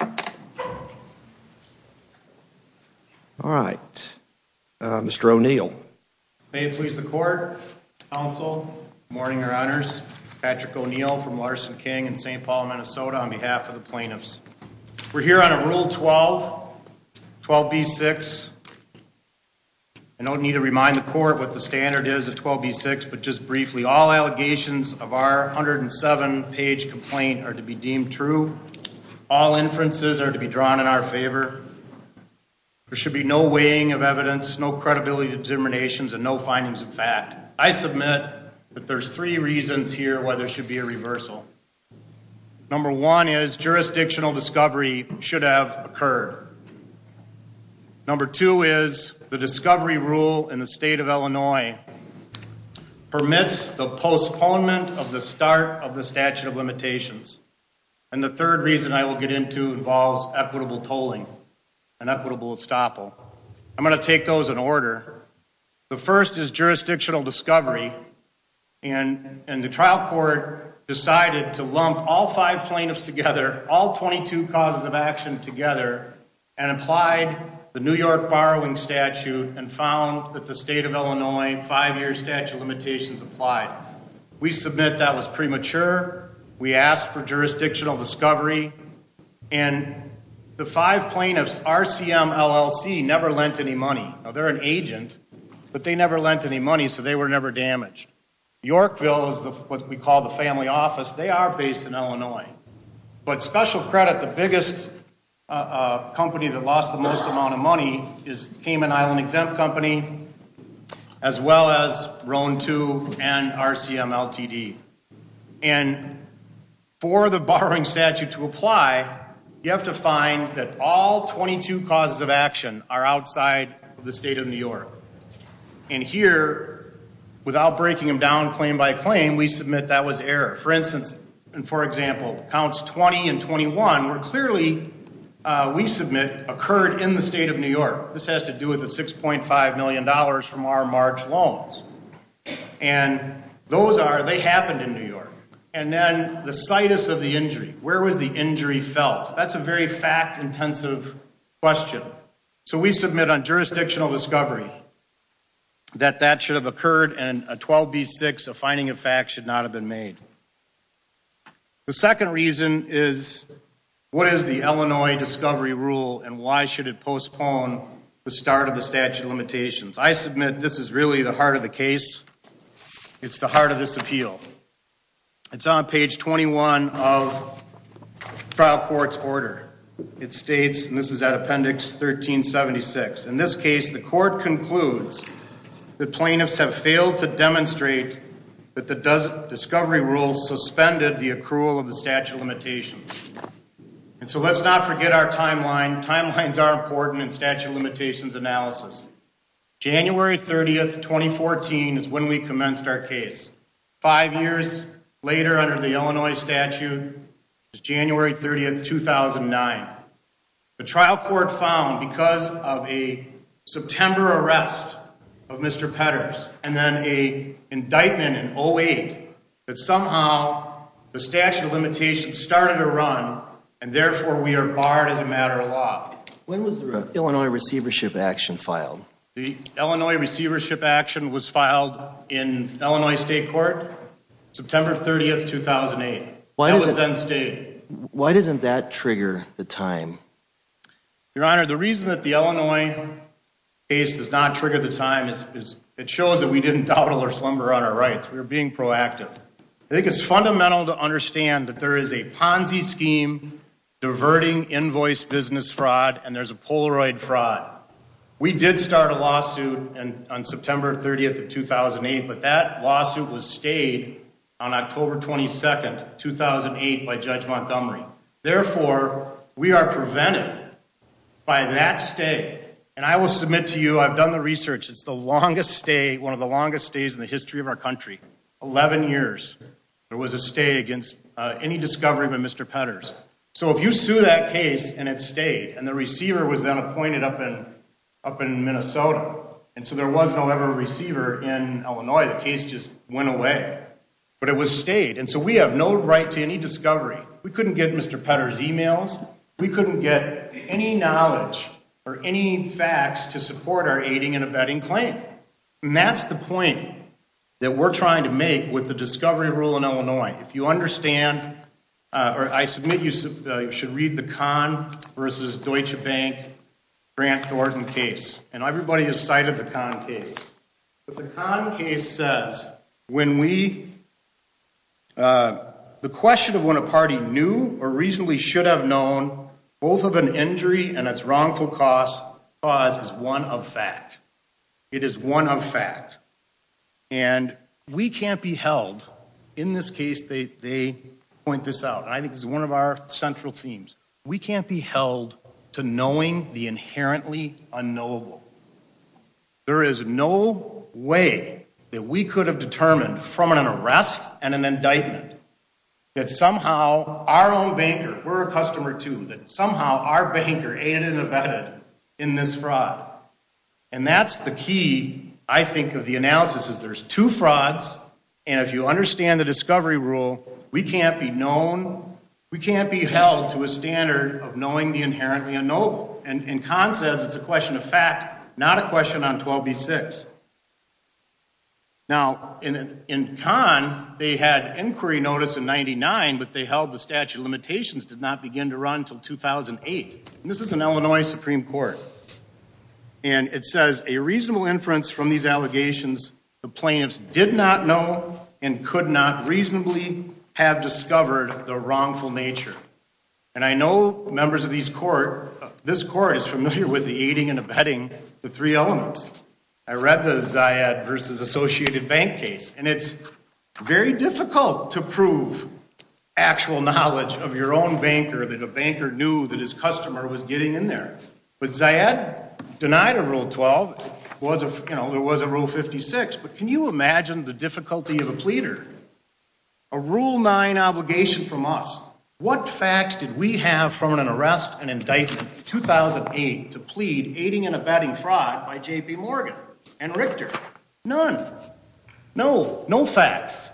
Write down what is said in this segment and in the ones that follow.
All right. Mr. O'Neill. May it please the court, counsel, good morning, your honors. Patrick O'Neill from Larson King in St. Paul, Minnesota on behalf of the plaintiffs. We're here on a Rule 12, 12b-6. I don't need to remind the court what the standard is of 12b-6, but just briefly, all allegations of our 107-page complaint are to be deemed true. All inferences are to be drawn in our favor. There should be no weighing of evidence, no credibility determinations, and no findings of fact. I submit that there's three reasons here why there should be a reversal. Number one is jurisdictional discovery should have occurred. Number two is the discovery rule in the state of Illinois permits the postponement of the start of the statute of limitations. And the third reason I will get into involves equitable tolling and equitable estoppel. I'm going to take those in order. The first is jurisdictional discovery, and the trial court decided to lump all five plaintiffs together, all 22 causes of action together, and applied the New York borrowing statute and found that the state of Illinois five-year statute of limitations applied. We submit that was premature. We asked for jurisdictional discovery, and the five plaintiffs, RCMLLC, never lent any money. Now, they're an agent, but they never lent any money, so they were never damaged. Yorkville is what we call the family office. They are based in Illinois. But special credit, the biggest company that lost the most amount of money is Cayman Island Exempt Company, as well as Rhone 2 and RCMLTD. And for the borrowing statute to apply, you have to find that all 22 causes of action are outside the state of New York. And here, without breaking them down claim by claim, we submit that was error. For instance, and for example, counts 20 and 21 were clearly, we submit, occurred in the state of New York. This has to do with the $6.5 million from our March loans. And those are, they happened in New York. And then the situs of the injury. Where was the injury felt? That's a very fact-intensive question. So we submit on jurisdictional discovery that that should have occurred, and a 12B6, a finding of fact, should not have been made. The second reason is, what is the Illinois discovery rule, and why should it postpone the start of the statute of limitations? I submit this is really the heart of the case. It's the heart of this appeal. It's on page 21 of trial court's order. It states, and this is at appendix 1376. In this case, the court concludes that plaintiffs have failed to demonstrate that the discovery rule suspended the accrual of the statute of limitations. And so let's not forget our timeline. Timelines are important in statute of limitations analysis. January 30th, 2014 is when we commenced our case. Five years later, under the Illinois statute, is January 30th, 2009. The trial court found, because of a September arrest of Mr. Petters, and then a indictment in 08, that somehow the statute of limitations started to run, and therefore we are barred as a matter of law. When was the Illinois receivership action filed? The Illinois receivership action was filed in Illinois State Court, September 30th, 2008. Why doesn't that trigger the time? Your Honor, the reason that the Illinois case does not trigger the time is it shows that we didn't dawdle or slumber on our rights. We were being proactive. I think it's fundamental to understand that there is a Ponzi scheme, diverting invoice business fraud, and there's a Polaroid fraud. We did start a lawsuit on September 30th, 2008, but that lawsuit was stayed on October 22nd, 2008, by Judge Montgomery. Therefore, we are prevented by that stay. And I will submit to you, I've done the research, it's the longest stay, one of the longest stays in the history of our country, 11 years. There was a stay against any discovery by Mr. Petters. So if you sue that case and it stayed, and the receiver was then appointed up in Minnesota, and so there was, however, a receiver in Illinois, the case just went away. But it stayed, and so we have no right to any discovery. We couldn't get Mr. Petters' emails. We couldn't get any knowledge or any facts to support our aiding and abetting claim. And that's the point that we're trying to make with the discovery rule in Illinois. If you understand, or I submit you should read the Kahn versus Deutsche Bank Grant Thornton case. And everybody has cited the Kahn case. But the Kahn case says, when we, the question of when a party knew or reasonably should have known both of an injury and its wrongful cause is one of fact. It is one of fact. And we can't be held, in this case they point this out, and I think this is one of our central themes. We can't be held to knowing the inherently unknowable. There is no way that we could have determined from an arrest and an indictment that somehow our own banker, we're a customer too, that somehow our banker aided and abetted in this fraud. And that's the key, I think, of the analysis is there's two frauds. And if you understand the discovery rule, we can't be known, we can't be held to a standard of knowing the inherently unknowable. And Kahn says it's a question of fact, not a question on 12B6. Now, in Kahn, they had inquiry notice in 99, but they held the statute of limitations did not begin to run until 2008. And this is an Illinois Supreme Court. And it says a reasonable inference from these allegations, the plaintiffs did not know and could not reasonably have discovered the wrongful nature. And I know members of this court is familiar with the aiding and abetting, the three elements. I read the Zayed versus Associated Bank case. And it's very difficult to prove actual knowledge of your own banker that a banker knew that his customer was getting in there. But Zayed denied a Rule 12. It was a Rule 56. But can you imagine the difficulty of a pleader? A Rule 9 obligation from us. What facts did we have from an arrest and indictment in 2008 to plead aiding and abetting fraud by J.P. Morgan and Richter? None. No, no facts.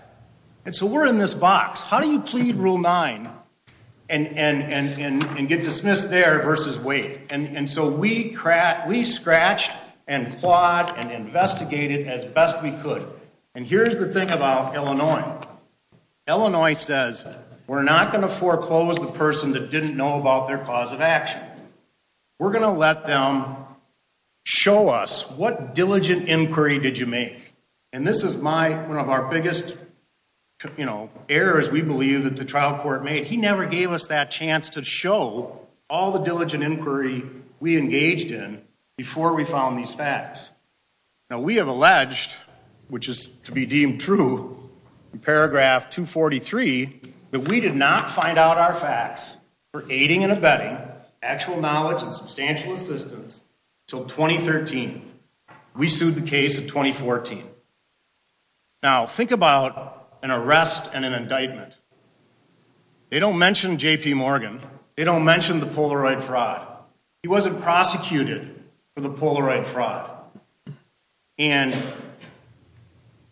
And so we're in this box. How do you plead Rule 9 and get dismissed there versus wait? And so we scratched and clawed and investigated as best we could. And here's the thing about Illinois. Illinois says we're not going to foreclose the person that didn't know about their cause of action. We're going to let them show us what diligent inquiry did you make. And this is one of our biggest errors, we believe, that the trial court made. He never gave us that chance to show all the diligent inquiry we engaged in before we found these facts. Now, we have alleged, which is to be deemed true in paragraph 243, that we did not find out our facts for aiding and abetting, actual knowledge and substantial assistance, until 2013. We sued the case in 2014. Now, think about an arrest and an indictment. They don't mention J.P. Morgan. They don't mention the Polaroid fraud. He wasn't prosecuted for the Polaroid fraud. And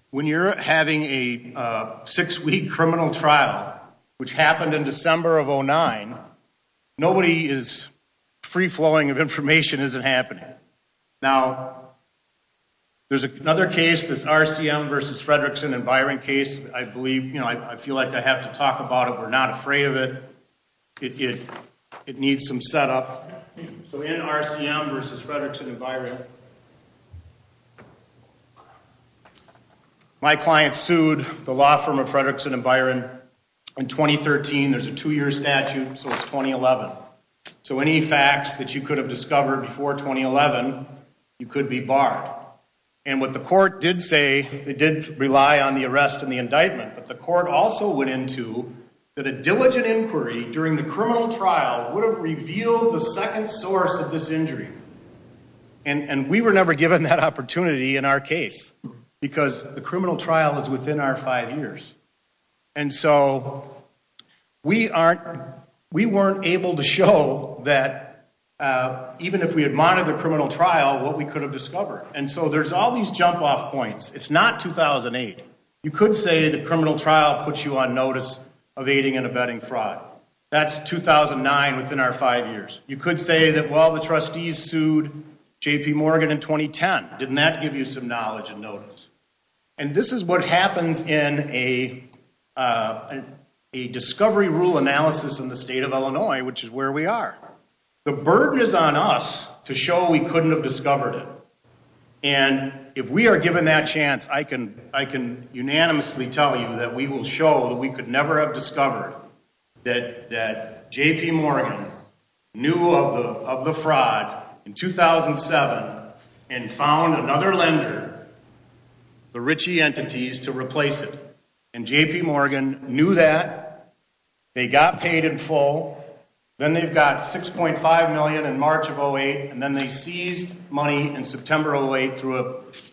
when you're having a six-week criminal trial, which happened in December of 2009, nobody is free-flowing of information as it happened. Now, there's another case, this RCM versus Fredrickson and Byron case. I believe, you know, I feel like I have to talk about it. We're not afraid of it. It needs some setup. So in RCM versus Fredrickson and Byron, my client sued the law firm of Fredrickson and Byron in 2013. There's a two-year statute, so it's 2011. So any facts that you could have discovered before 2011, you could be barred. And what the court did say, it did rely on the arrest and the indictment. But the court also went into that a diligent inquiry during the criminal trial would have revealed the second source of this injury. And we were never given that opportunity in our case because the criminal trial is within our five years. And so we weren't able to show that even if we had monitored the criminal trial, what we could have discovered. And so there's all these jump-off points. It's not 2008. You could say the criminal trial puts you on notice of aiding and abetting fraud. That's 2009 within our five years. You could say that, well, the trustees sued J.P. Morgan in 2010. Didn't that give you some knowledge and notice? And this is what happens in a discovery rule analysis in the state of Illinois, which is where we are. The burden is on us to show we couldn't have discovered it. And if we are given that chance, I can unanimously tell you that we will show that we could never have discovered that J.P. Morgan knew of the fraud in 2007 and found another lender, the Ritchie Entities, to replace it. And J.P. Morgan knew that. They got paid in full. Then they got $6.5 million in March of 2008, and then they seized money in September of 2008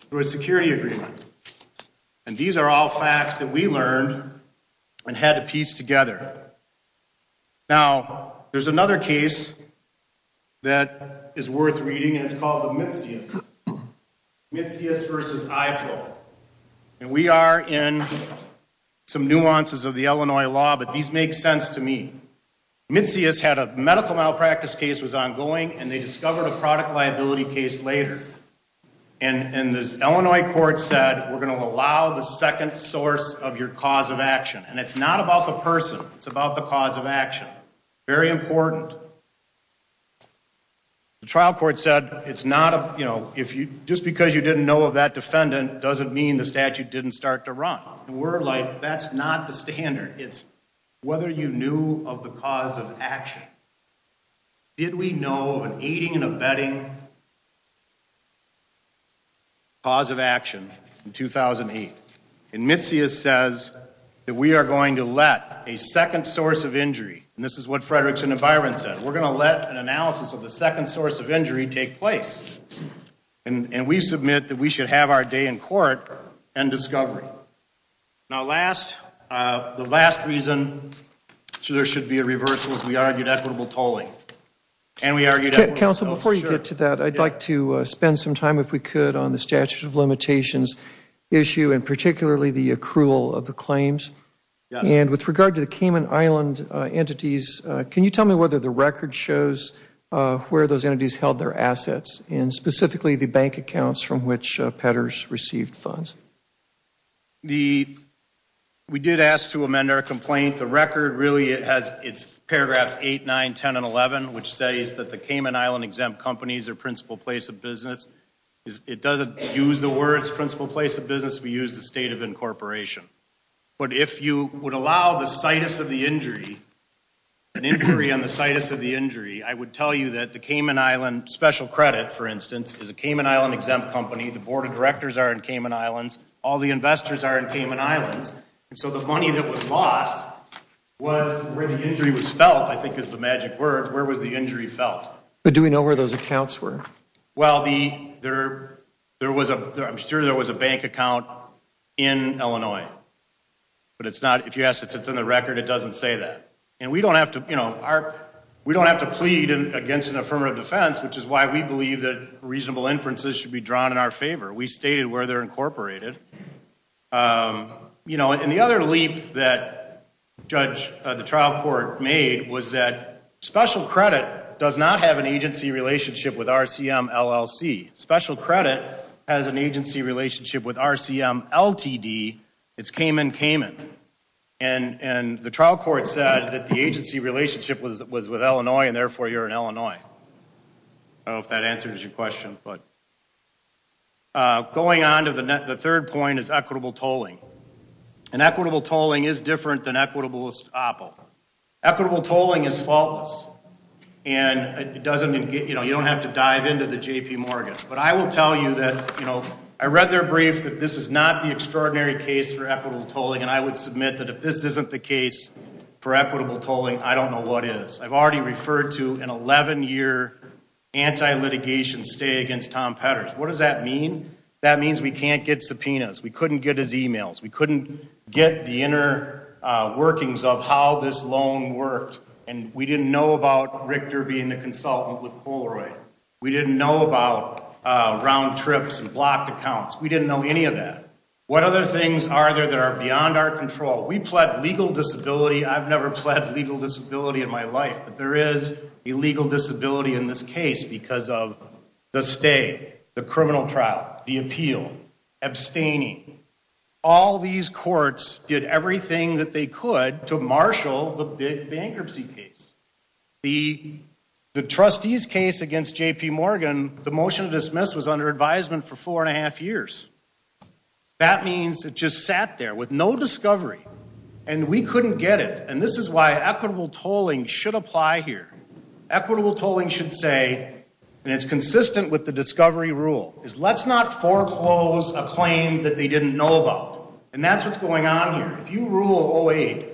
through a security agreement. And these are all facts that we learned and had to piece together. Now, there's another case that is worth reading, and it's called the Mitzius, Mitzius v. Eiffel. And we are in some nuances of the Illinois law, but these make sense to me. Mitzius had a medical malpractice case that was ongoing, and they discovered a product liability case later. And the Illinois court said, we're going to allow the second source of your cause of action. And it's not about the person. It's about the cause of action. Very important. The trial court said, just because you didn't know of that defendant doesn't mean the statute didn't start to run. And we're like, that's not the standard. It's whether you knew of the cause of action. Did we know of an aiding and abetting cause of action in 2008? And Mitzius says that we are going to let a second source of injury, and this is what Fredrickson and Byron said, we're going to let an analysis of the second source of injury take place. And we submit that we should have our day in court and discovery. Now, the last reason there should be a reversal is we argued equitable tolling. Counsel, before you get to that, I'd like to spend some time, if we could, on the statute of limitations issue, and particularly the accrual of the claims. And with regard to the Cayman Island entities, can you tell me whether the record shows where those entities held their assets, and specifically the bank accounts from which Petters received funds? We did ask to amend our complaint. The record really has its paragraphs 8, 9, 10, and 11, which says that the Cayman Island exempt companies are principal place of business. It doesn't use the words principal place of business. We use the state of incorporation. But if you would allow the situs of the injury, an injury on the situs of the injury, I would tell you that the Cayman Island special credit, for instance, is a Cayman Island exempt company. The board of directors are in Cayman Islands. All the investors are in Cayman Islands. And so the money that was lost was where the injury was felt, I think is the magic word. Where was the injury felt? But do we know where those accounts were? Well, I'm sure there was a bank account in Illinois. But if you ask if it's in the record, it doesn't say that. And we don't have to plead against an affirmative defense, which is why we believe that reasonable inferences should be drawn in our favor. We stated where they're incorporated. And the other leap that the trial court made was that special credit does not have an agency relationship with RCMLLC. Special credit has an agency relationship with RCMLTD. It's Cayman Cayman. And the trial court said that the agency relationship was with Illinois, and therefore you're in Illinois. I don't know if that answers your question. Going on to the third point is equitable tolling. And equitable tolling is different than equitable estoppel. Equitable tolling is faultless. And you don't have to dive into the JP Morgan. But I will tell you that I read their brief that this is not the extraordinary case for equitable tolling. And I would submit that if this isn't the case for equitable tolling, I don't know what is. I've already referred to an 11-year anti-litigation stay against Tom Petters. What does that mean? That means we can't get subpoenas. We couldn't get his e-mails. We couldn't get the inner workings of how this loan worked. And we didn't know about Richter being the consultant with Polaroid. We didn't know about round trips and blocked accounts. We didn't know any of that. What other things are there that are beyond our control? We pled legal disability. I've never pled legal disability in my life. But there is a legal disability in this case because of the stay, the criminal trial, the appeal, abstaining. All these courts did everything that they could to marshal the bankruptcy case. The trustees case against JP Morgan, the motion to dismiss was under advisement for four and a half years. That means it just sat there with no discovery. And we couldn't get it. And this is why equitable tolling should apply here. Equitable tolling should say, and it's consistent with the discovery rule, is let's not foreclose a claim that they didn't know about. And that's what's going on here. If you rule 08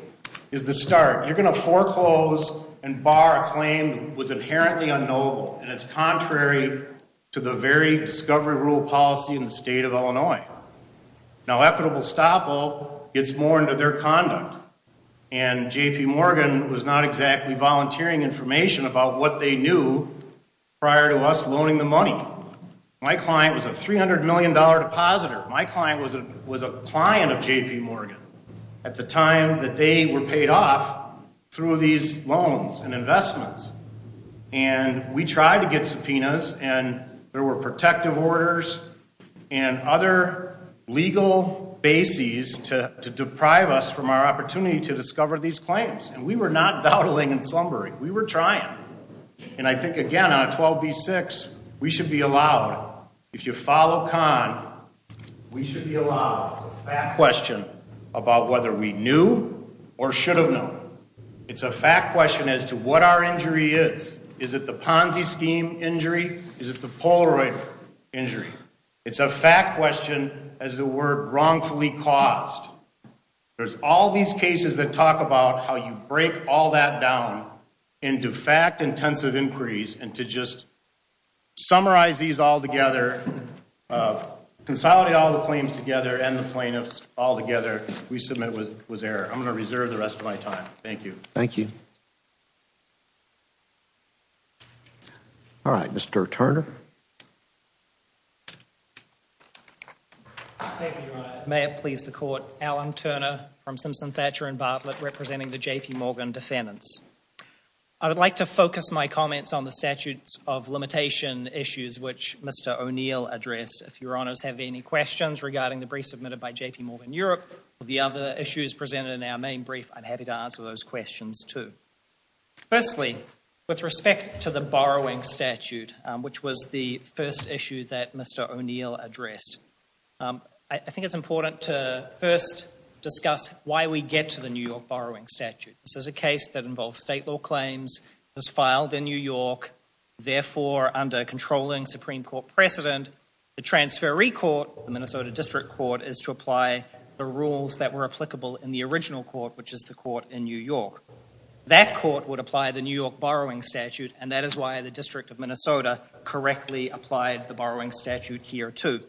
is the start, you're going to foreclose and bar a claim that was inherently unknowable. And it's contrary to the very discovery rule policy in the state of Illinois. Now equitable stop all gets more into their conduct. And JP Morgan was not exactly volunteering information about what they knew prior to us loaning the money. My client was a $300 million depositor. My client was a client of JP Morgan at the time that they were paid off through these loans and investments. And we tried to get subpoenas. And there were protective orders and other legal bases to deprive us from our opportunity to discover these claims. And we were not dawdling and slumbering. We were trying. And I think, again, on 12B6, we should be allowed. If you follow CON, we should be allowed. It's a fact question about whether we knew or should have known. It's a fact question as to what our injury is. Is it the Ponzi scheme injury? Is it the Polaroid injury? It's a fact question as to we're wrongfully caused. There's all these cases that talk about how you break all that down into fact-intensive inquiries. And to just summarize these all together, consolidate all the claims together and the plaintiffs all together, we submit was error. I'm going to reserve the rest of my time. Thank you. Thank you. All right, Mr. Turner. Thank you, Your Honor. May it please the Court, Alan Turner from Simpson Thatcher and Bartlett representing the JP Morgan defendants. I would like to focus my comments on the statutes of limitation issues which Mr. O'Neill addressed. If Your Honors have any questions regarding the brief submitted by JP Morgan Europe or the other issues presented in our main brief, I'm happy to answer those questions, too. Firstly, with respect to the borrowing statute, which was the first issue that Mr. O'Neill addressed, I think it's important to first discuss why we get to the New York borrowing statute. This is a case that involves state law claims. It was filed in New York. Therefore, under controlling Supreme Court precedent, the transferee court, the Minnesota District Court, is to apply the rules that were applicable in the original court, which is the court in New York. That court would apply the New York borrowing statute, and that is why the District of Minnesota correctly applied the borrowing statute here, too.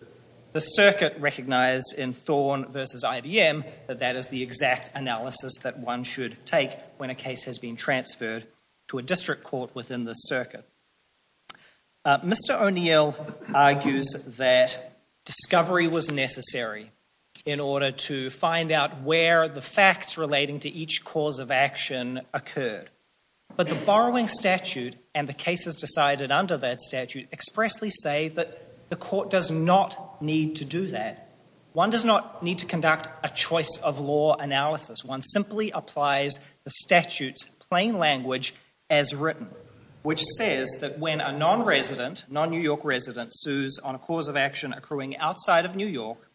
The circuit recognized in Thorne v. IBM that that is the exact analysis that one should take when a case has been transferred to a district court within the circuit. Mr. O'Neill argues that discovery was necessary in order to find out where the facts relating to each cause of action occurred. But the borrowing statute and the cases decided under that statute expressly say that the court does not need to do that. One does not need to conduct a choice of law analysis. One simply applies the statute's plain language as written, which says that when a non-resident, non-New York resident, sues on a cause of action accruing outside of New York,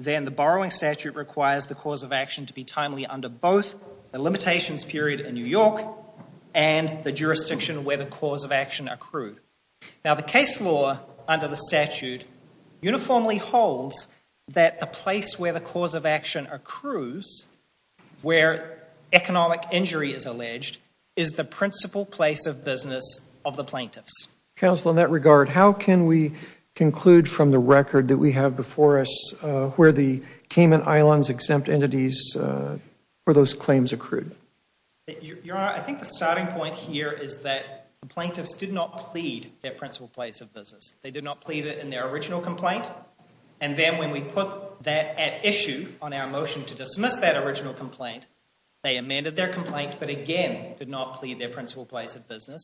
then the borrowing statute requires the cause of action to be timely under both the limitations period in New York and the jurisdiction where the cause of action accrued. Now, the case law under the statute uniformly holds that the place where the cause of action accrues, where economic injury is alleged, is the principal place of business of the plaintiffs. Counsel, in that regard, how can we conclude from the record that we have before us where the Cayman Islands exempt entities for those claims accrued? Your Honor, I think the starting point here is that the plaintiffs did not plead their principal place of business. They did not plead it in their original complaint. And then when we put that at issue on our motion to dismiss that original complaint, they amended their complaint but again did not plead their principal place of business.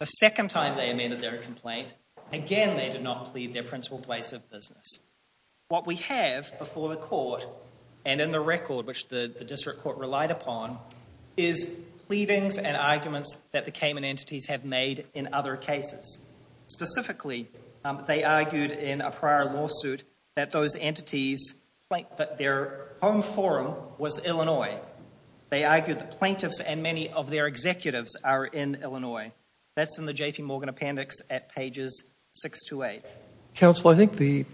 The second time they amended their complaint, again they did not plead their principal place of business. What we have before the court and in the record, which the district court relied upon, is pleadings and arguments that the Cayman entities have made in other cases. Specifically, they argued in a prior lawsuit that their home forum was Illinois. They argued the plaintiffs and many of their executives are in Illinois. That's in the J.P. Morgan appendix at pages 6 to 8. Counsel, I think the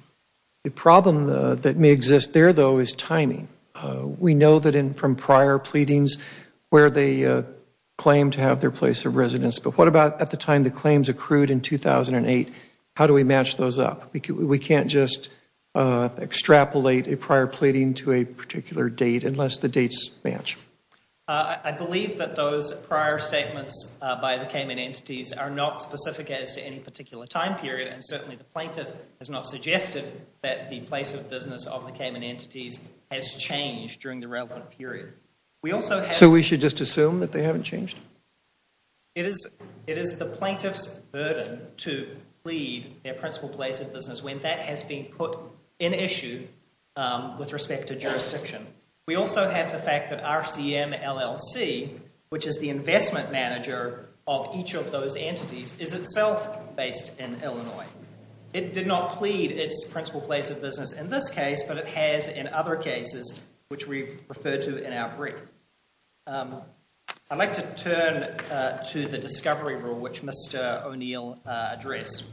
problem that may exist there, though, is timing. We know that from prior pleadings where they claim to have their place of residence. But what about at the time the claims accrued in 2008? How do we match those up? We can't just extrapolate a prior pleading to a particular date unless the dates match. I believe that those prior statements by the Cayman entities are not specific as to any particular time period. And certainly the plaintiff has not suggested that the place of business of the Cayman entities has changed during the relevant period. So we should just assume that they haven't changed? It is the plaintiff's burden to plead their principal place of business when that has been put in issue with respect to jurisdiction. We also have the fact that RCMLLC, which is the investment manager of each of those entities, is itself based in Illinois. It did not plead its principal place of business in this case, but it has in other cases, which we've referred to in our brief. I'd like to turn to the discovery rule, which Mr. O'Neill addressed.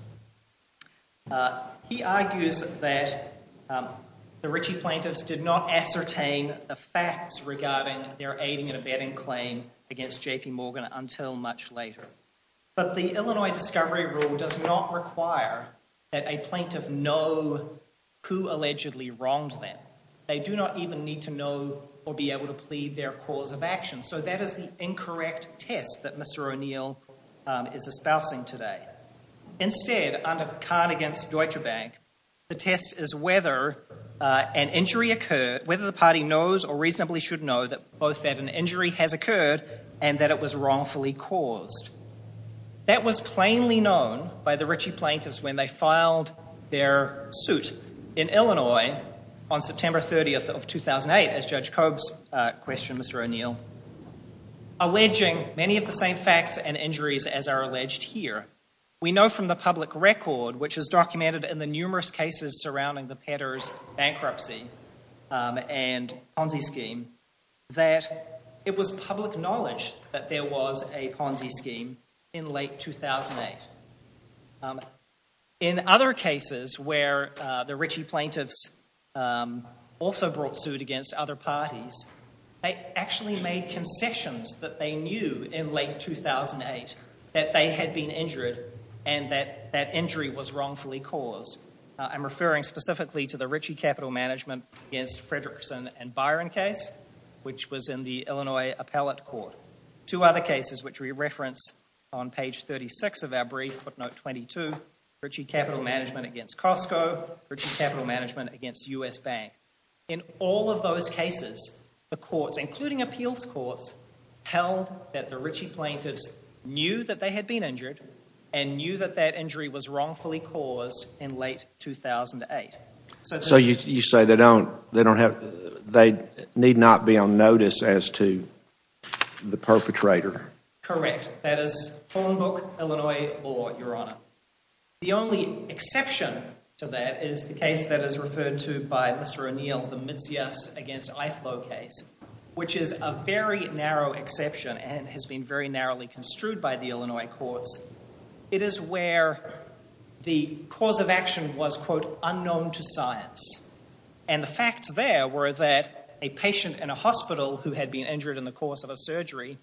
He argues that the Ritchie plaintiffs did not ascertain the facts regarding their aiding and abetting claim against J.P. Morgan until much later. But the Illinois discovery rule does not require that a plaintiff know who allegedly wronged them. They do not even need to know or be able to plead their cause of action. So that is the incorrect test that Mr. O'Neill is espousing today. Instead, under the card against Deutsche Bank, the test is whether an injury occurred, whether the party knows or reasonably should know that both that an injury has occurred and that it was wrongfully caused. That was plainly known by the Ritchie plaintiffs when they filed their suit in Illinois on September 30th of 2008, as Judge Cobb's questioned Mr. O'Neill, alleging many of the same facts and injuries as are alleged here. We know from the public record, which is documented in the numerous cases surrounding the Petters bankruptcy and Ponzi scheme, that it was public knowledge that there was a Ponzi scheme in late 2008. In other cases where the Ritchie plaintiffs also brought suit against other parties, they actually made concessions that they knew in late 2008 that they had been injured and that that injury was wrongfully caused. I'm referring specifically to the Ritchie capital management against Fredrickson and Byron case, which was in the Illinois appellate court. Two other cases which we reference on page 36 of our brief, footnote 22, Ritchie capital management against Costco, Ritchie capital management against U.S. Bank. In all of those cases, the courts, including appeals courts, held that the Ritchie plaintiffs knew that they had been injured and knew that that injury was wrongfully caused in late 2008. So you say they need not be on notice as to the perpetrator? Correct. That is phone book Illinois law, Your Honor. The only exception to that is the case that is referred to by Mr. O'Neill, the Mitzias against Iflow case, which is a very narrow exception and has been very narrowly construed by the Illinois courts. It is where the cause of action was, quote, unknown to science. And the facts there were that a patient in a hospital who had been injured in the course of a surgery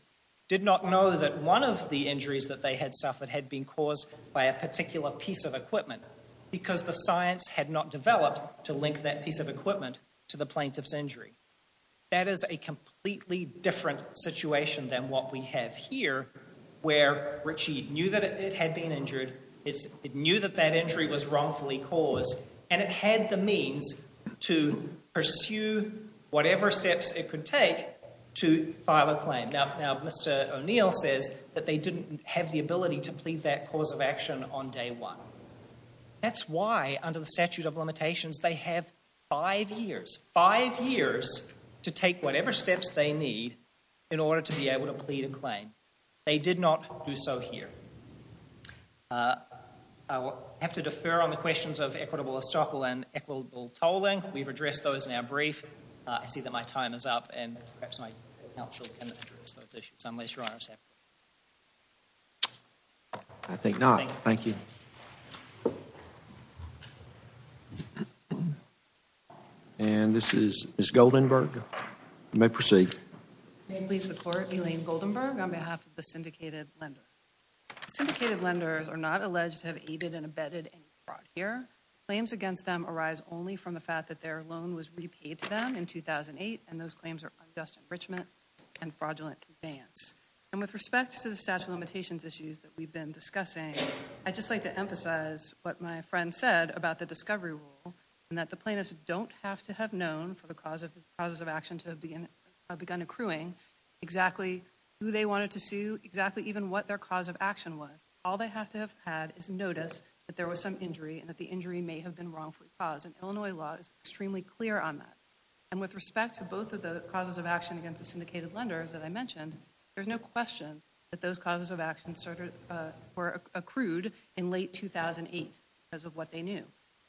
did not know that one of the injuries that they had suffered had been caused by a particular piece of equipment because the science had not developed to link that piece of equipment to the plaintiff's injury. That is a completely different situation than what we have here, where Ritchie knew that it had been injured. It knew that that injury was wrongfully caused, and it had the means to pursue whatever steps it could take to file a claim. Now, Mr. O'Neill says that they didn't have the ability to plead that cause of action on day one. That's why, under the statute of limitations, they have five years, five years to take whatever steps they need in order to be able to plead a claim. They did not do so here. I will have to defer on the questions of equitable estoppel and equitable tolling. We've addressed those in our brief. I see that my time is up, and perhaps my counsel can address those issues, unless Your Honor is happy. I think not. Thank you. And this is Ms. Goldenberg. You may proceed. May it please the Court, Elaine Goldenberg, on behalf of the syndicated lender. Syndicated lenders are not alleged to have aided and abetted any fraud here. Claims against them arise only from the fact that their loan was repaid to them in 2008, and those claims are unjust enrichment and fraudulent defiance. And with respect to the statute of limitations issues that we've been discussing, I'd just like to emphasize what my friend said about the discovery rule, and that the plaintiffs don't have to have known for the causes of action to have begun accruing exactly who they wanted to sue, exactly even what their cause of action was. All they have to have had is noticed that there was some injury and that the injury may have been wrongfully caused, and Illinois law is extremely clear on that. And with respect to both of the causes of action against the syndicated lenders that I mentioned, there's no question that those causes of action were accrued in late 2008 because of what they knew.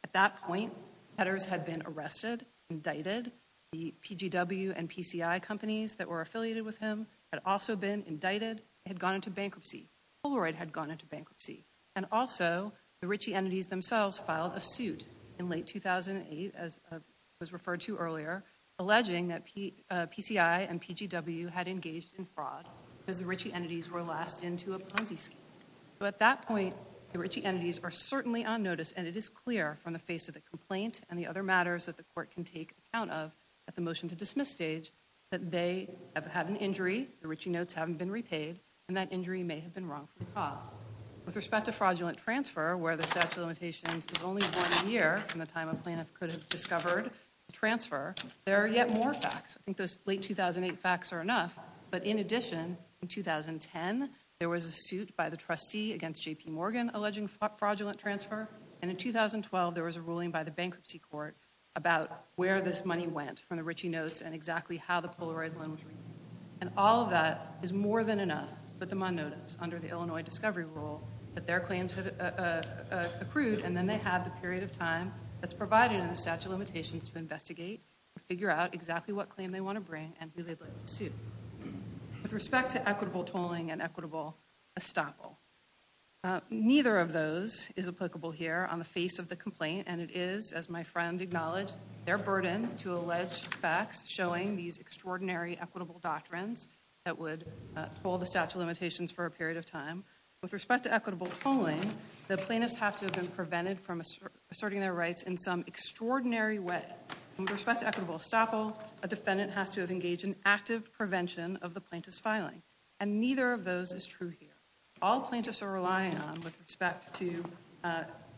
At that point, Petters had been arrested, indicted. The PGW and PCI companies that were affiliated with him had also been indicted. They had gone into bankruptcy. Polaroid had gone into bankruptcy. And also, the Ritchie entities themselves filed a suit in late 2008, as was referred to earlier, alleging that PCI and PGW had engaged in fraud because the Ritchie entities were last in to a Ponzi scheme. So at that point, the Ritchie entities are certainly on notice, and it is clear from the face of the complaint and the other matters that the court can take account of at the motion to dismiss stage that they have had an injury, the Ritchie notes haven't been repaid, and that injury may have been wrongfully caused. With respect to fraudulent transfer, where the statute of limitations was only one year from the time a plaintiff could have discovered the transfer, there are yet more facts. I think those late 2008 facts are enough, but in addition, in 2010, there was a suit by the trustee against J.P. Morgan alleging fraudulent transfer, and in 2012, there was a ruling by the bankruptcy court about where this money went from the Ritchie notes and exactly how the Polaroid loan was written. And all of that is more than enough to put them on notice under the Illinois discovery rule that their claims had accrued, and then they have the period of time that's provided in the statute of limitations to investigate or figure out exactly what claim they want to bring and who they'd like to sue. With respect to equitable tolling and equitable estoppel, neither of those is applicable here on the face of the complaint, and it is, as my friend acknowledged, their burden to allege facts showing these extraordinary equitable doctrines that would toll the statute of limitations for a period of time. With respect to equitable tolling, the plaintiffs have to have been prevented from asserting their rights in some extraordinary way. With respect to equitable estoppel, a defendant has to have engaged in active prevention of the plaintiff's filing, and neither of those is true here. All plaintiffs are relying on with respect to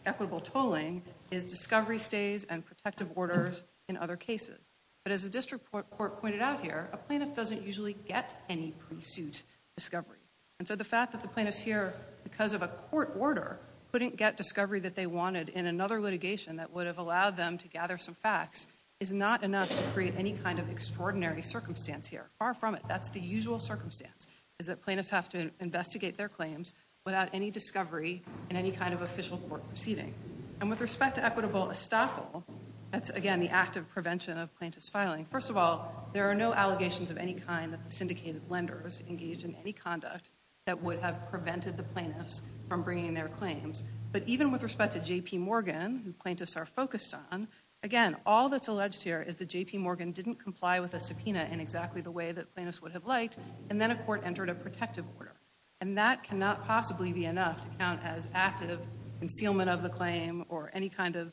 equitable tolling is discovery stays and protective orders in other cases. But as the district court pointed out here, a plaintiff doesn't usually get any pre-suit discovery. And so the fact that the plaintiffs here, because of a court order, couldn't get discovery that they wanted in another litigation that would have allowed them to gather some facts is not enough to create any kind of extraordinary circumstance here. Far from it. That's the usual circumstance, is that plaintiffs have to investigate their claims without any discovery in any kind of official court proceeding. And with respect to equitable estoppel, that's again the active prevention of plaintiff's filing. First of all, there are no allegations of any kind that the syndicated lenders engaged in any conduct that would have prevented the plaintiffs from bringing their claims. But even with respect to J.P. Morgan, who plaintiffs are focused on, again, all that's alleged here is that J.P. Morgan didn't comply with a subpoena in exactly the way that plaintiffs would have liked, and then a court entered a protective order. And that cannot possibly be enough to count as active concealment of the claim or any kind of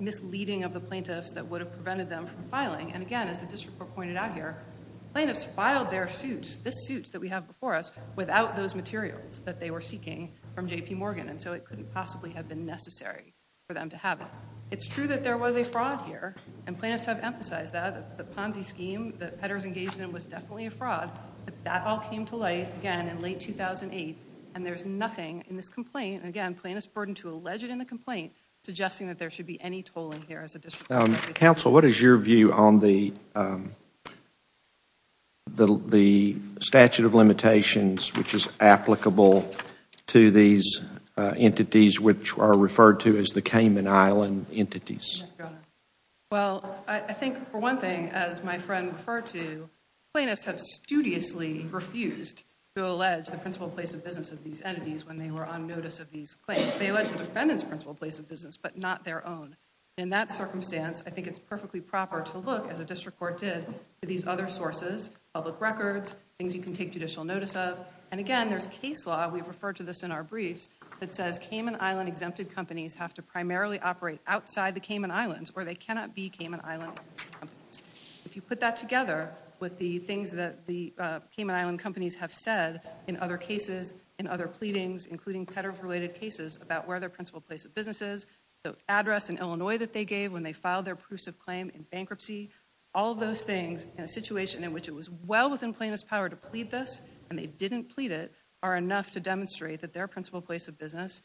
misleading of the plaintiffs that would have prevented them from filing. And again, as the district court pointed out here, plaintiffs filed their suits, this suit that we have before us, without those materials that they were seeking from J.P. Morgan, and so it couldn't possibly have been necessary for them to have it. It's true that there was a fraud here, and plaintiffs have emphasized that. The Ponzi scheme that Petters engaged in was definitely a fraud, but that all came to light, again, in late 2008, and there's nothing in this complaint, and again, plaintiffs' burden to allege it in the complaint, suggesting that there should be any tolling here as a district court. Counsel, what is your view on the statute of limitations, which is applicable to these entities which are referred to as the Cayman Island entities? Well, I think, for one thing, as my friend referred to, plaintiffs have studiously refused to allege the principal place of business of these entities when they were on notice of these claims. They allege the defendant's principal place of business, but not their own. In that circumstance, I think it's perfectly proper to look, as the district court did, at these other sources, public records, things you can take judicial notice of, and again, there's case law, we've referred to this in our briefs, that says Cayman Island exempted companies have to primarily operate outside the Cayman Islands, or they cannot be Cayman Island exempted companies. If you put that together with the things that the Cayman Island companies have said in other cases, in other pleadings, including peddler-related cases, about where their principal place of business is, the address in Illinois that they gave when they filed their proofs of claim in bankruptcy, all of those things, in a situation in which it was well within plaintiff's power to plead this, and they didn't plead it, are enough to demonstrate that their principal place of business,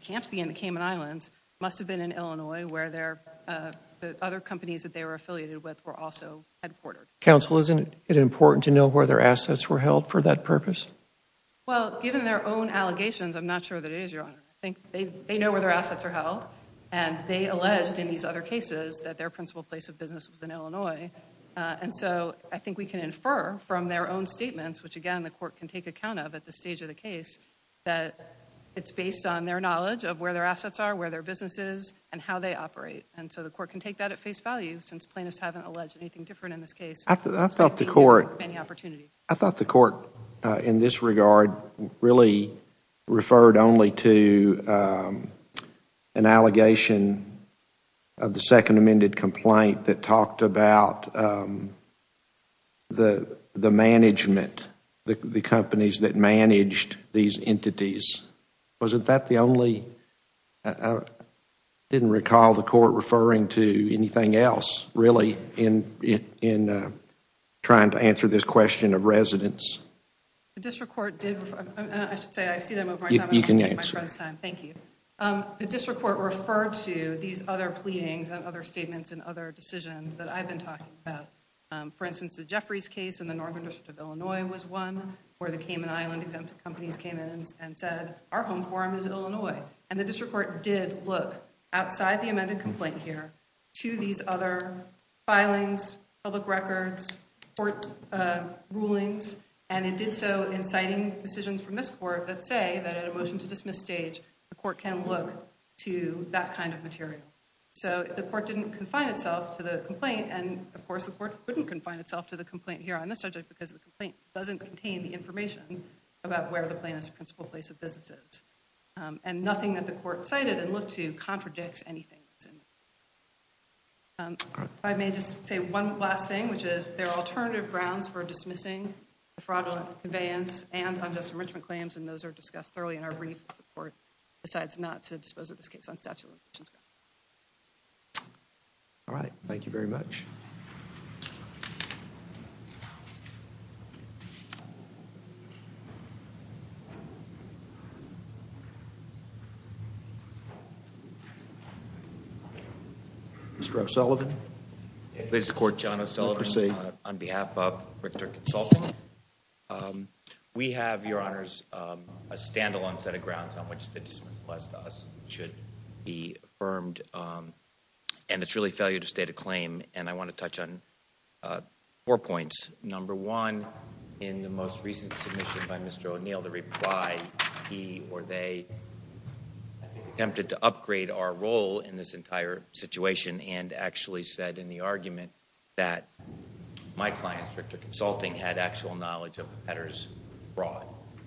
can't be in the Cayman Islands, must have been in Illinois, where the other companies that they were affiliated with were also headquartered. Counsel, isn't it important to know where their assets were held for that purpose? Well, given their own allegations, I'm not sure that it is, Your Honor. I think they know where their assets are held, and they alleged in these other cases that their principal place of business was in Illinois, and so I think we can infer from their own statements, which again, the court can take account of at this stage of the case, that it's based on their knowledge of where their assets are, where their business is, and how they operate, and so the court can take that at face value, since plaintiffs haven't alleged anything different in this case. I thought the court in this regard really referred only to an allegation of the second amended complaint that talked about the management, the companies that managed these entities. Wasn't that the only, I didn't recall the court referring to anything else, really, in trying to answer this question of residence? The district court did, and I should say, I see that I'm over my time, I'm going to take my friend's time. You can answer. Thank you. The district court referred to these other pleadings and other statements and other decisions that I've been talking about. For instance, the Jeffries case in the northern district of Illinois was one where the Cayman Island Exempted Companies came in and said, our home forum is Illinois. And the district court did look, outside the amended complaint here, to these other filings, public records, court rulings, and it did so in citing decisions from this court that say that at a motion to dismiss stage, the court can look to that kind of material. So the court didn't confine itself to the complaint, and of course the court couldn't confine itself to the complaint here on this subject because the complaint doesn't contain the information about where the plaintiff's principal place of business is. And nothing that the court cited and looked to contradicts anything that's in there. If I may just say one last thing, which is there are alternative grounds for dismissing the fraudulent conveyance and unjust enrichment claims, and those are discussed thoroughly in our brief if the court decides not to dispose of this case on statute of limitations grounds. All right. Thank you very much. Mr. O'Sullivan. Mr. Court, John O'Sullivan on behalf of Richter Consulting. We have, Your Honors, a stand-alone set of grounds on which the dismissal applies to us and should be affirmed, and it's really failure to state a claim, and I want to touch on four points. Number one, in the most recent submission by Mr. O'Neill, the reply he or they attempted to upgrade our role in this entire situation and actually said in the argument that my clients, Richter Consulting, had actual knowledge of Petters fraud.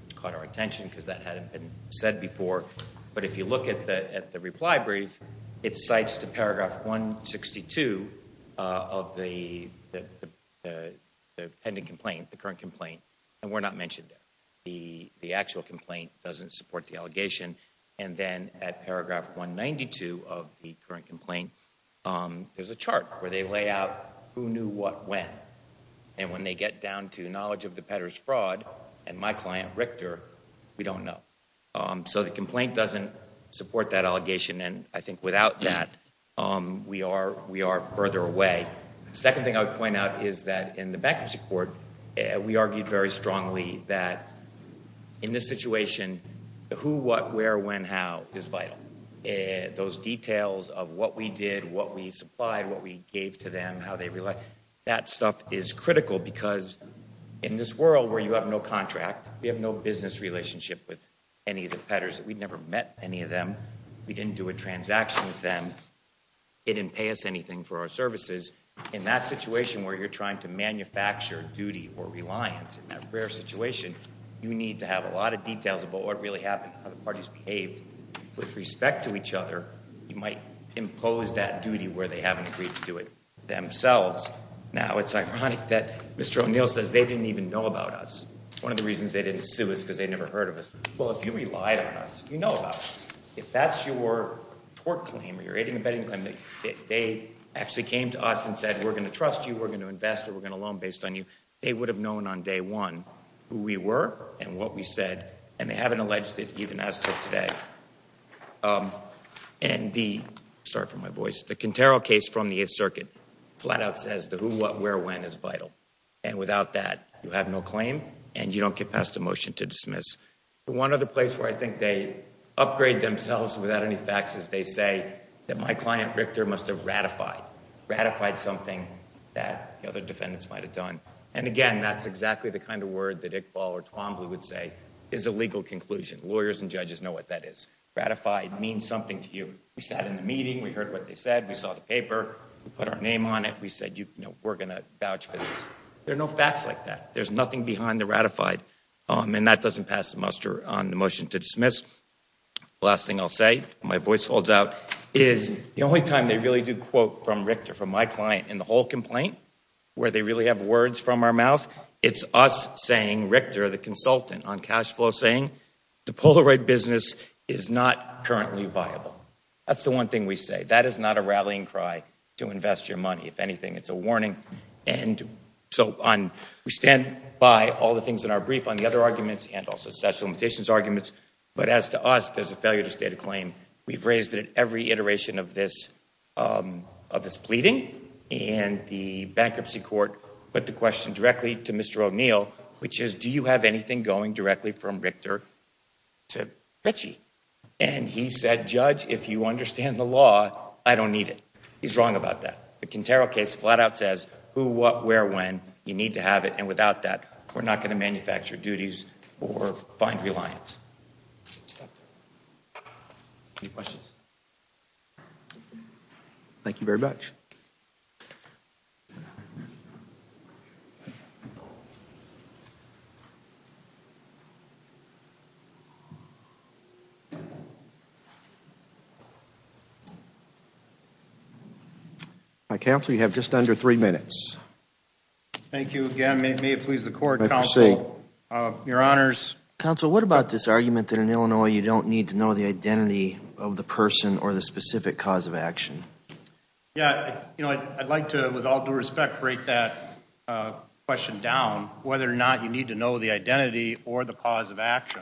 It caught our attention because that hadn't been said before, but if you look at the reply brief, it cites to paragraph 162 of the pending complaint, the current complaint, and we're not mentioned there. The actual complaint doesn't support the allegation, and then at paragraph 192 of the current complaint, there's a chart where they lay out who knew what when, and when they get down to knowledge of the Petters fraud and my client, Richter, we don't know. So the complaint doesn't support that allegation, and I think without that we are further away. The second thing I would point out is that in the backup support, we argued very strongly that in this situation, who, what, where, when, how is vital. Those details of what we did, what we supplied, what we gave to them, how they relate, that stuff is critical because in this world where you have no contract, we have no business relationship with any of the Petters. We never met any of them. We didn't do a transaction with them. They didn't pay us anything for our services. In that situation where you're trying to manufacture duty or reliance in that rare situation, you need to have a lot of details about what really happened, how the parties behaved. With respect to each other, you might impose that duty where they haven't agreed to do it themselves. Now it's ironic that Mr. O'Neill says they didn't even know about us. One of the reasons they didn't sue us is because they never heard of us. Well, if you relied on us, you know about us. If that's your tort claim or your aiding and abetting claim, if they actually came to us and said we're going to trust you, we're going to invest or we're going to loan based on you, they would have known on day one who we were and what we said, and they haven't alleged it even as to today. And the, sorry for my voice, the Cantero case from the 8th Circuit, flat out says the who, what, where, when is vital, and without that you have no claim and you don't get past a motion to dismiss. One other place where I think they upgrade themselves without any facts is they say that my client Richter must have ratified, ratified something that the other defendants might have done. And again, that's exactly the kind of word that Iqbal or Twombly would say is a legal conclusion. Lawyers and judges know what that is. Ratified means something to you. We sat in the meeting, we heard what they said, we saw the paper, we put our name on it, we said, you know, we're going to vouch for this. There are no facts like that. There's nothing behind the ratified. And that doesn't pass the muster on the motion to dismiss. The last thing I'll say, my voice holds out, is the only time they really do quote from Richter, from my client, in the whole complaint, where they really have words from our mouth, it's us saying, Richter, the consultant on cash flow, saying the Polaroid business is not currently viable. That's the one thing we say. That is not a rallying cry to invest your money. If anything, it's a warning. And so we stand by all the things in our brief on the other arguments and also statute of limitations arguments. But as to us, there's a failure to state a claim. We've raised it at every iteration of this pleading. And the bankruptcy court put the question directly to Mr. O'Neill, which is, do you have anything going directly from Richter to Ritchie? And he said, judge, if you understand the law, I don't need it. He's wrong about that. The Quintero case flat out says who, what, where, when. You need to have it. And without that, we're not going to manufacture duties or find reliance. Any questions? Thank you very much. Counsel, you have just under three minutes. Thank you again. May it please the court, counsel. Your honors. Counsel, what about this argument that in Illinois you don't need to know the identity of the person or the specific cause of action? Yeah, you know, I'd like to, with all due respect, break that question down, whether or not you need to know the identity or the cause of action.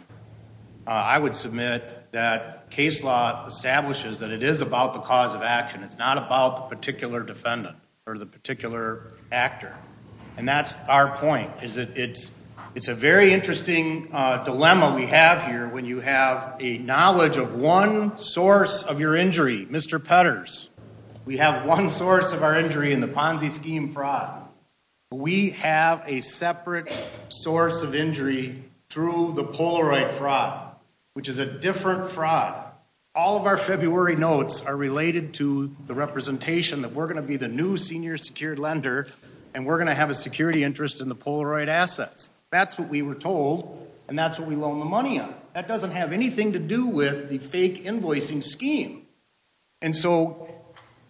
I would submit that case law establishes that it is about the cause of action. It's not about the particular defendant or the particular actor. And that's our point. It's a very interesting dilemma we have here when you have a knowledge of one source of your injury, Mr. Petters. We have one source of our injury in the Ponzi scheme fraud. We have a separate source of injury through the Polaroid fraud, which is a different fraud. All of our February notes are related to the representation that we're going to be the new senior secured lender and we're going to have a security interest in the Polaroid assets. That's what we were told and that's what we loan the money on. That doesn't have anything to do with the fake invoicing scheme. And so,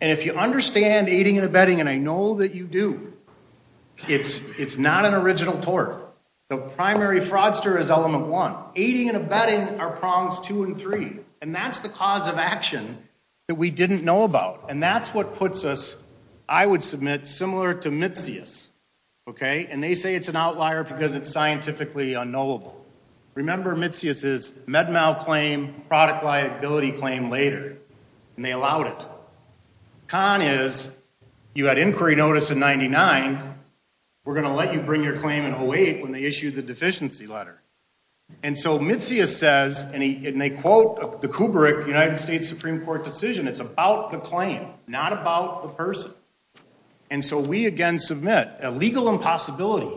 and if you understand aiding and abetting, and I know that you do, it's not an original tort. The primary fraudster is element one. Aiding and abetting are prongs two and three. And that's the cause of action that we didn't know about. And that's what puts us, I would submit, similar to Mitzias. Okay? And they say it's an outlier because it's scientifically unknowable. Remember Mitzias' MedMal claim, product liability claim later. And they allowed it. Con is, you had inquiry notice in 99. We're going to let you bring your claim in 08 when they issued the deficiency letter. And so Mitzias says, and they quote the Kubrick United States Supreme Court decision, it's about the claim, not about the person. And so we, again, submit a legal impossibility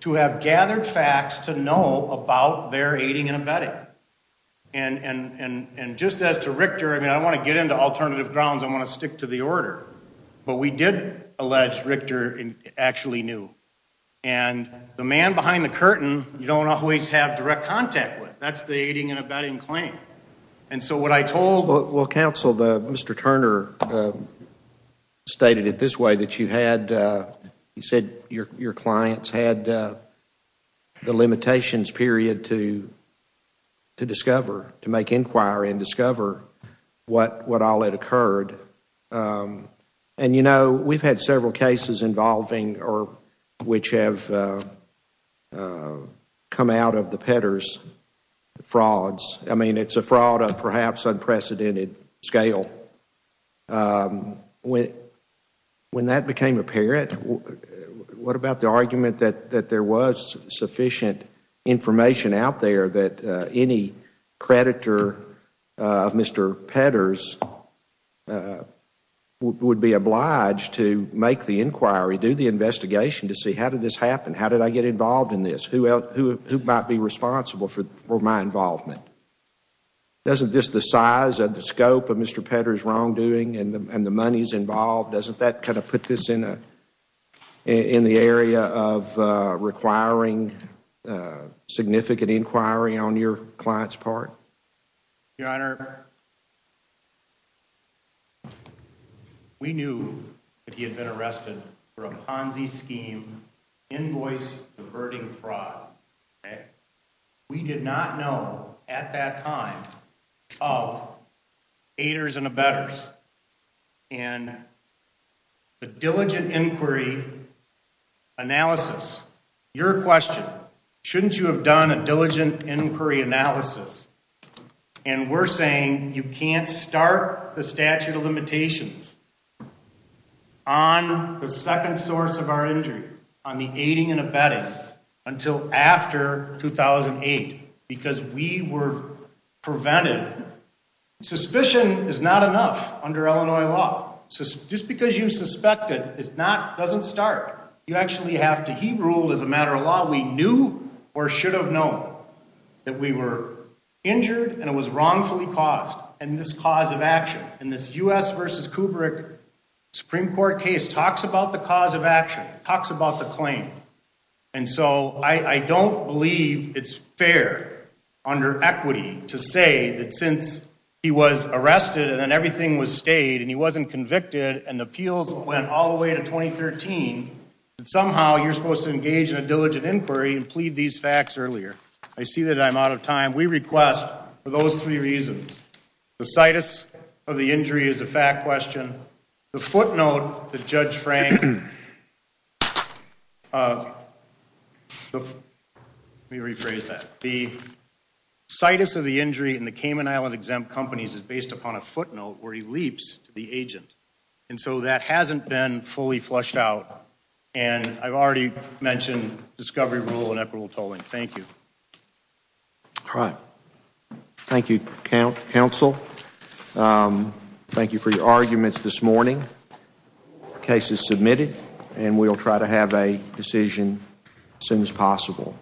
to have gathered facts to know about their aiding and abetting. And just as to Richter, I mean, I don't want to get into alternative grounds. I want to stick to the order. But we did allege Richter actually knew. And the man behind the curtain you don't always have direct contact with. That's the aiding and abetting claim. And so what I told – Well, counsel, Mr. Turner stated it this way, that you had – he said your clients had the limitations, period, to discover, to make inquiry and discover what all had occurred. And, you know, we've had several cases involving or which have come out of the Petters frauds. I mean, it's a fraud of perhaps unprecedented scale. When that became apparent, what about the argument that there was sufficient information out there that any creditor of Mr. Petters would be obliged to make the inquiry, do the investigation to see how did this happen, how did I get involved in this, who might be responsible for my involvement? Doesn't just the size and the scope of Mr. Petters' wrongdoing and the monies involved, doesn't that kind of put this in the area of requiring significant inquiry on your client's part? Your Honor, we knew that he had been arrested for a Ponzi scheme, invoice-diverting fraud. We did not know at that time of aiders and abettors. And the diligent inquiry analysis, your question, shouldn't you have done a diligent inquiry analysis? And we're saying you can't start the statute of limitations on the second source of our injury, on the aiding and abetting, until after 2008, because we were prevented. Suspicion is not enough under Illinois law. Just because you suspect it, it doesn't start. You actually have to, he ruled as a matter of law, we knew or should have known that we were injured and it was wrongfully caused in this cause of action. And this U.S. v. Kubrick Supreme Court case talks about the cause of action, talks about the claim. And so I don't believe it's fair under equity to say that since he was arrested and then everything was stayed and he wasn't convicted and the appeals went all the way to 2013, that somehow you're supposed to engage in a diligent inquiry and plead these facts earlier. I see that I'm out of time. We request for those three reasons. The situs of the injury is a fact question. The footnote that Judge Frank, let me rephrase that. The situs of the injury in the Cayman Island exempt companies is based upon a footnote where he leaps to the agent. And so that hasn't been fully flushed out. And I've already mentioned discovery rule and equitable tolling. Thank you. All right. Thank you, counsel. Thank you for your arguments this morning. The case is submitted and we'll try to have a decision as soon as possible.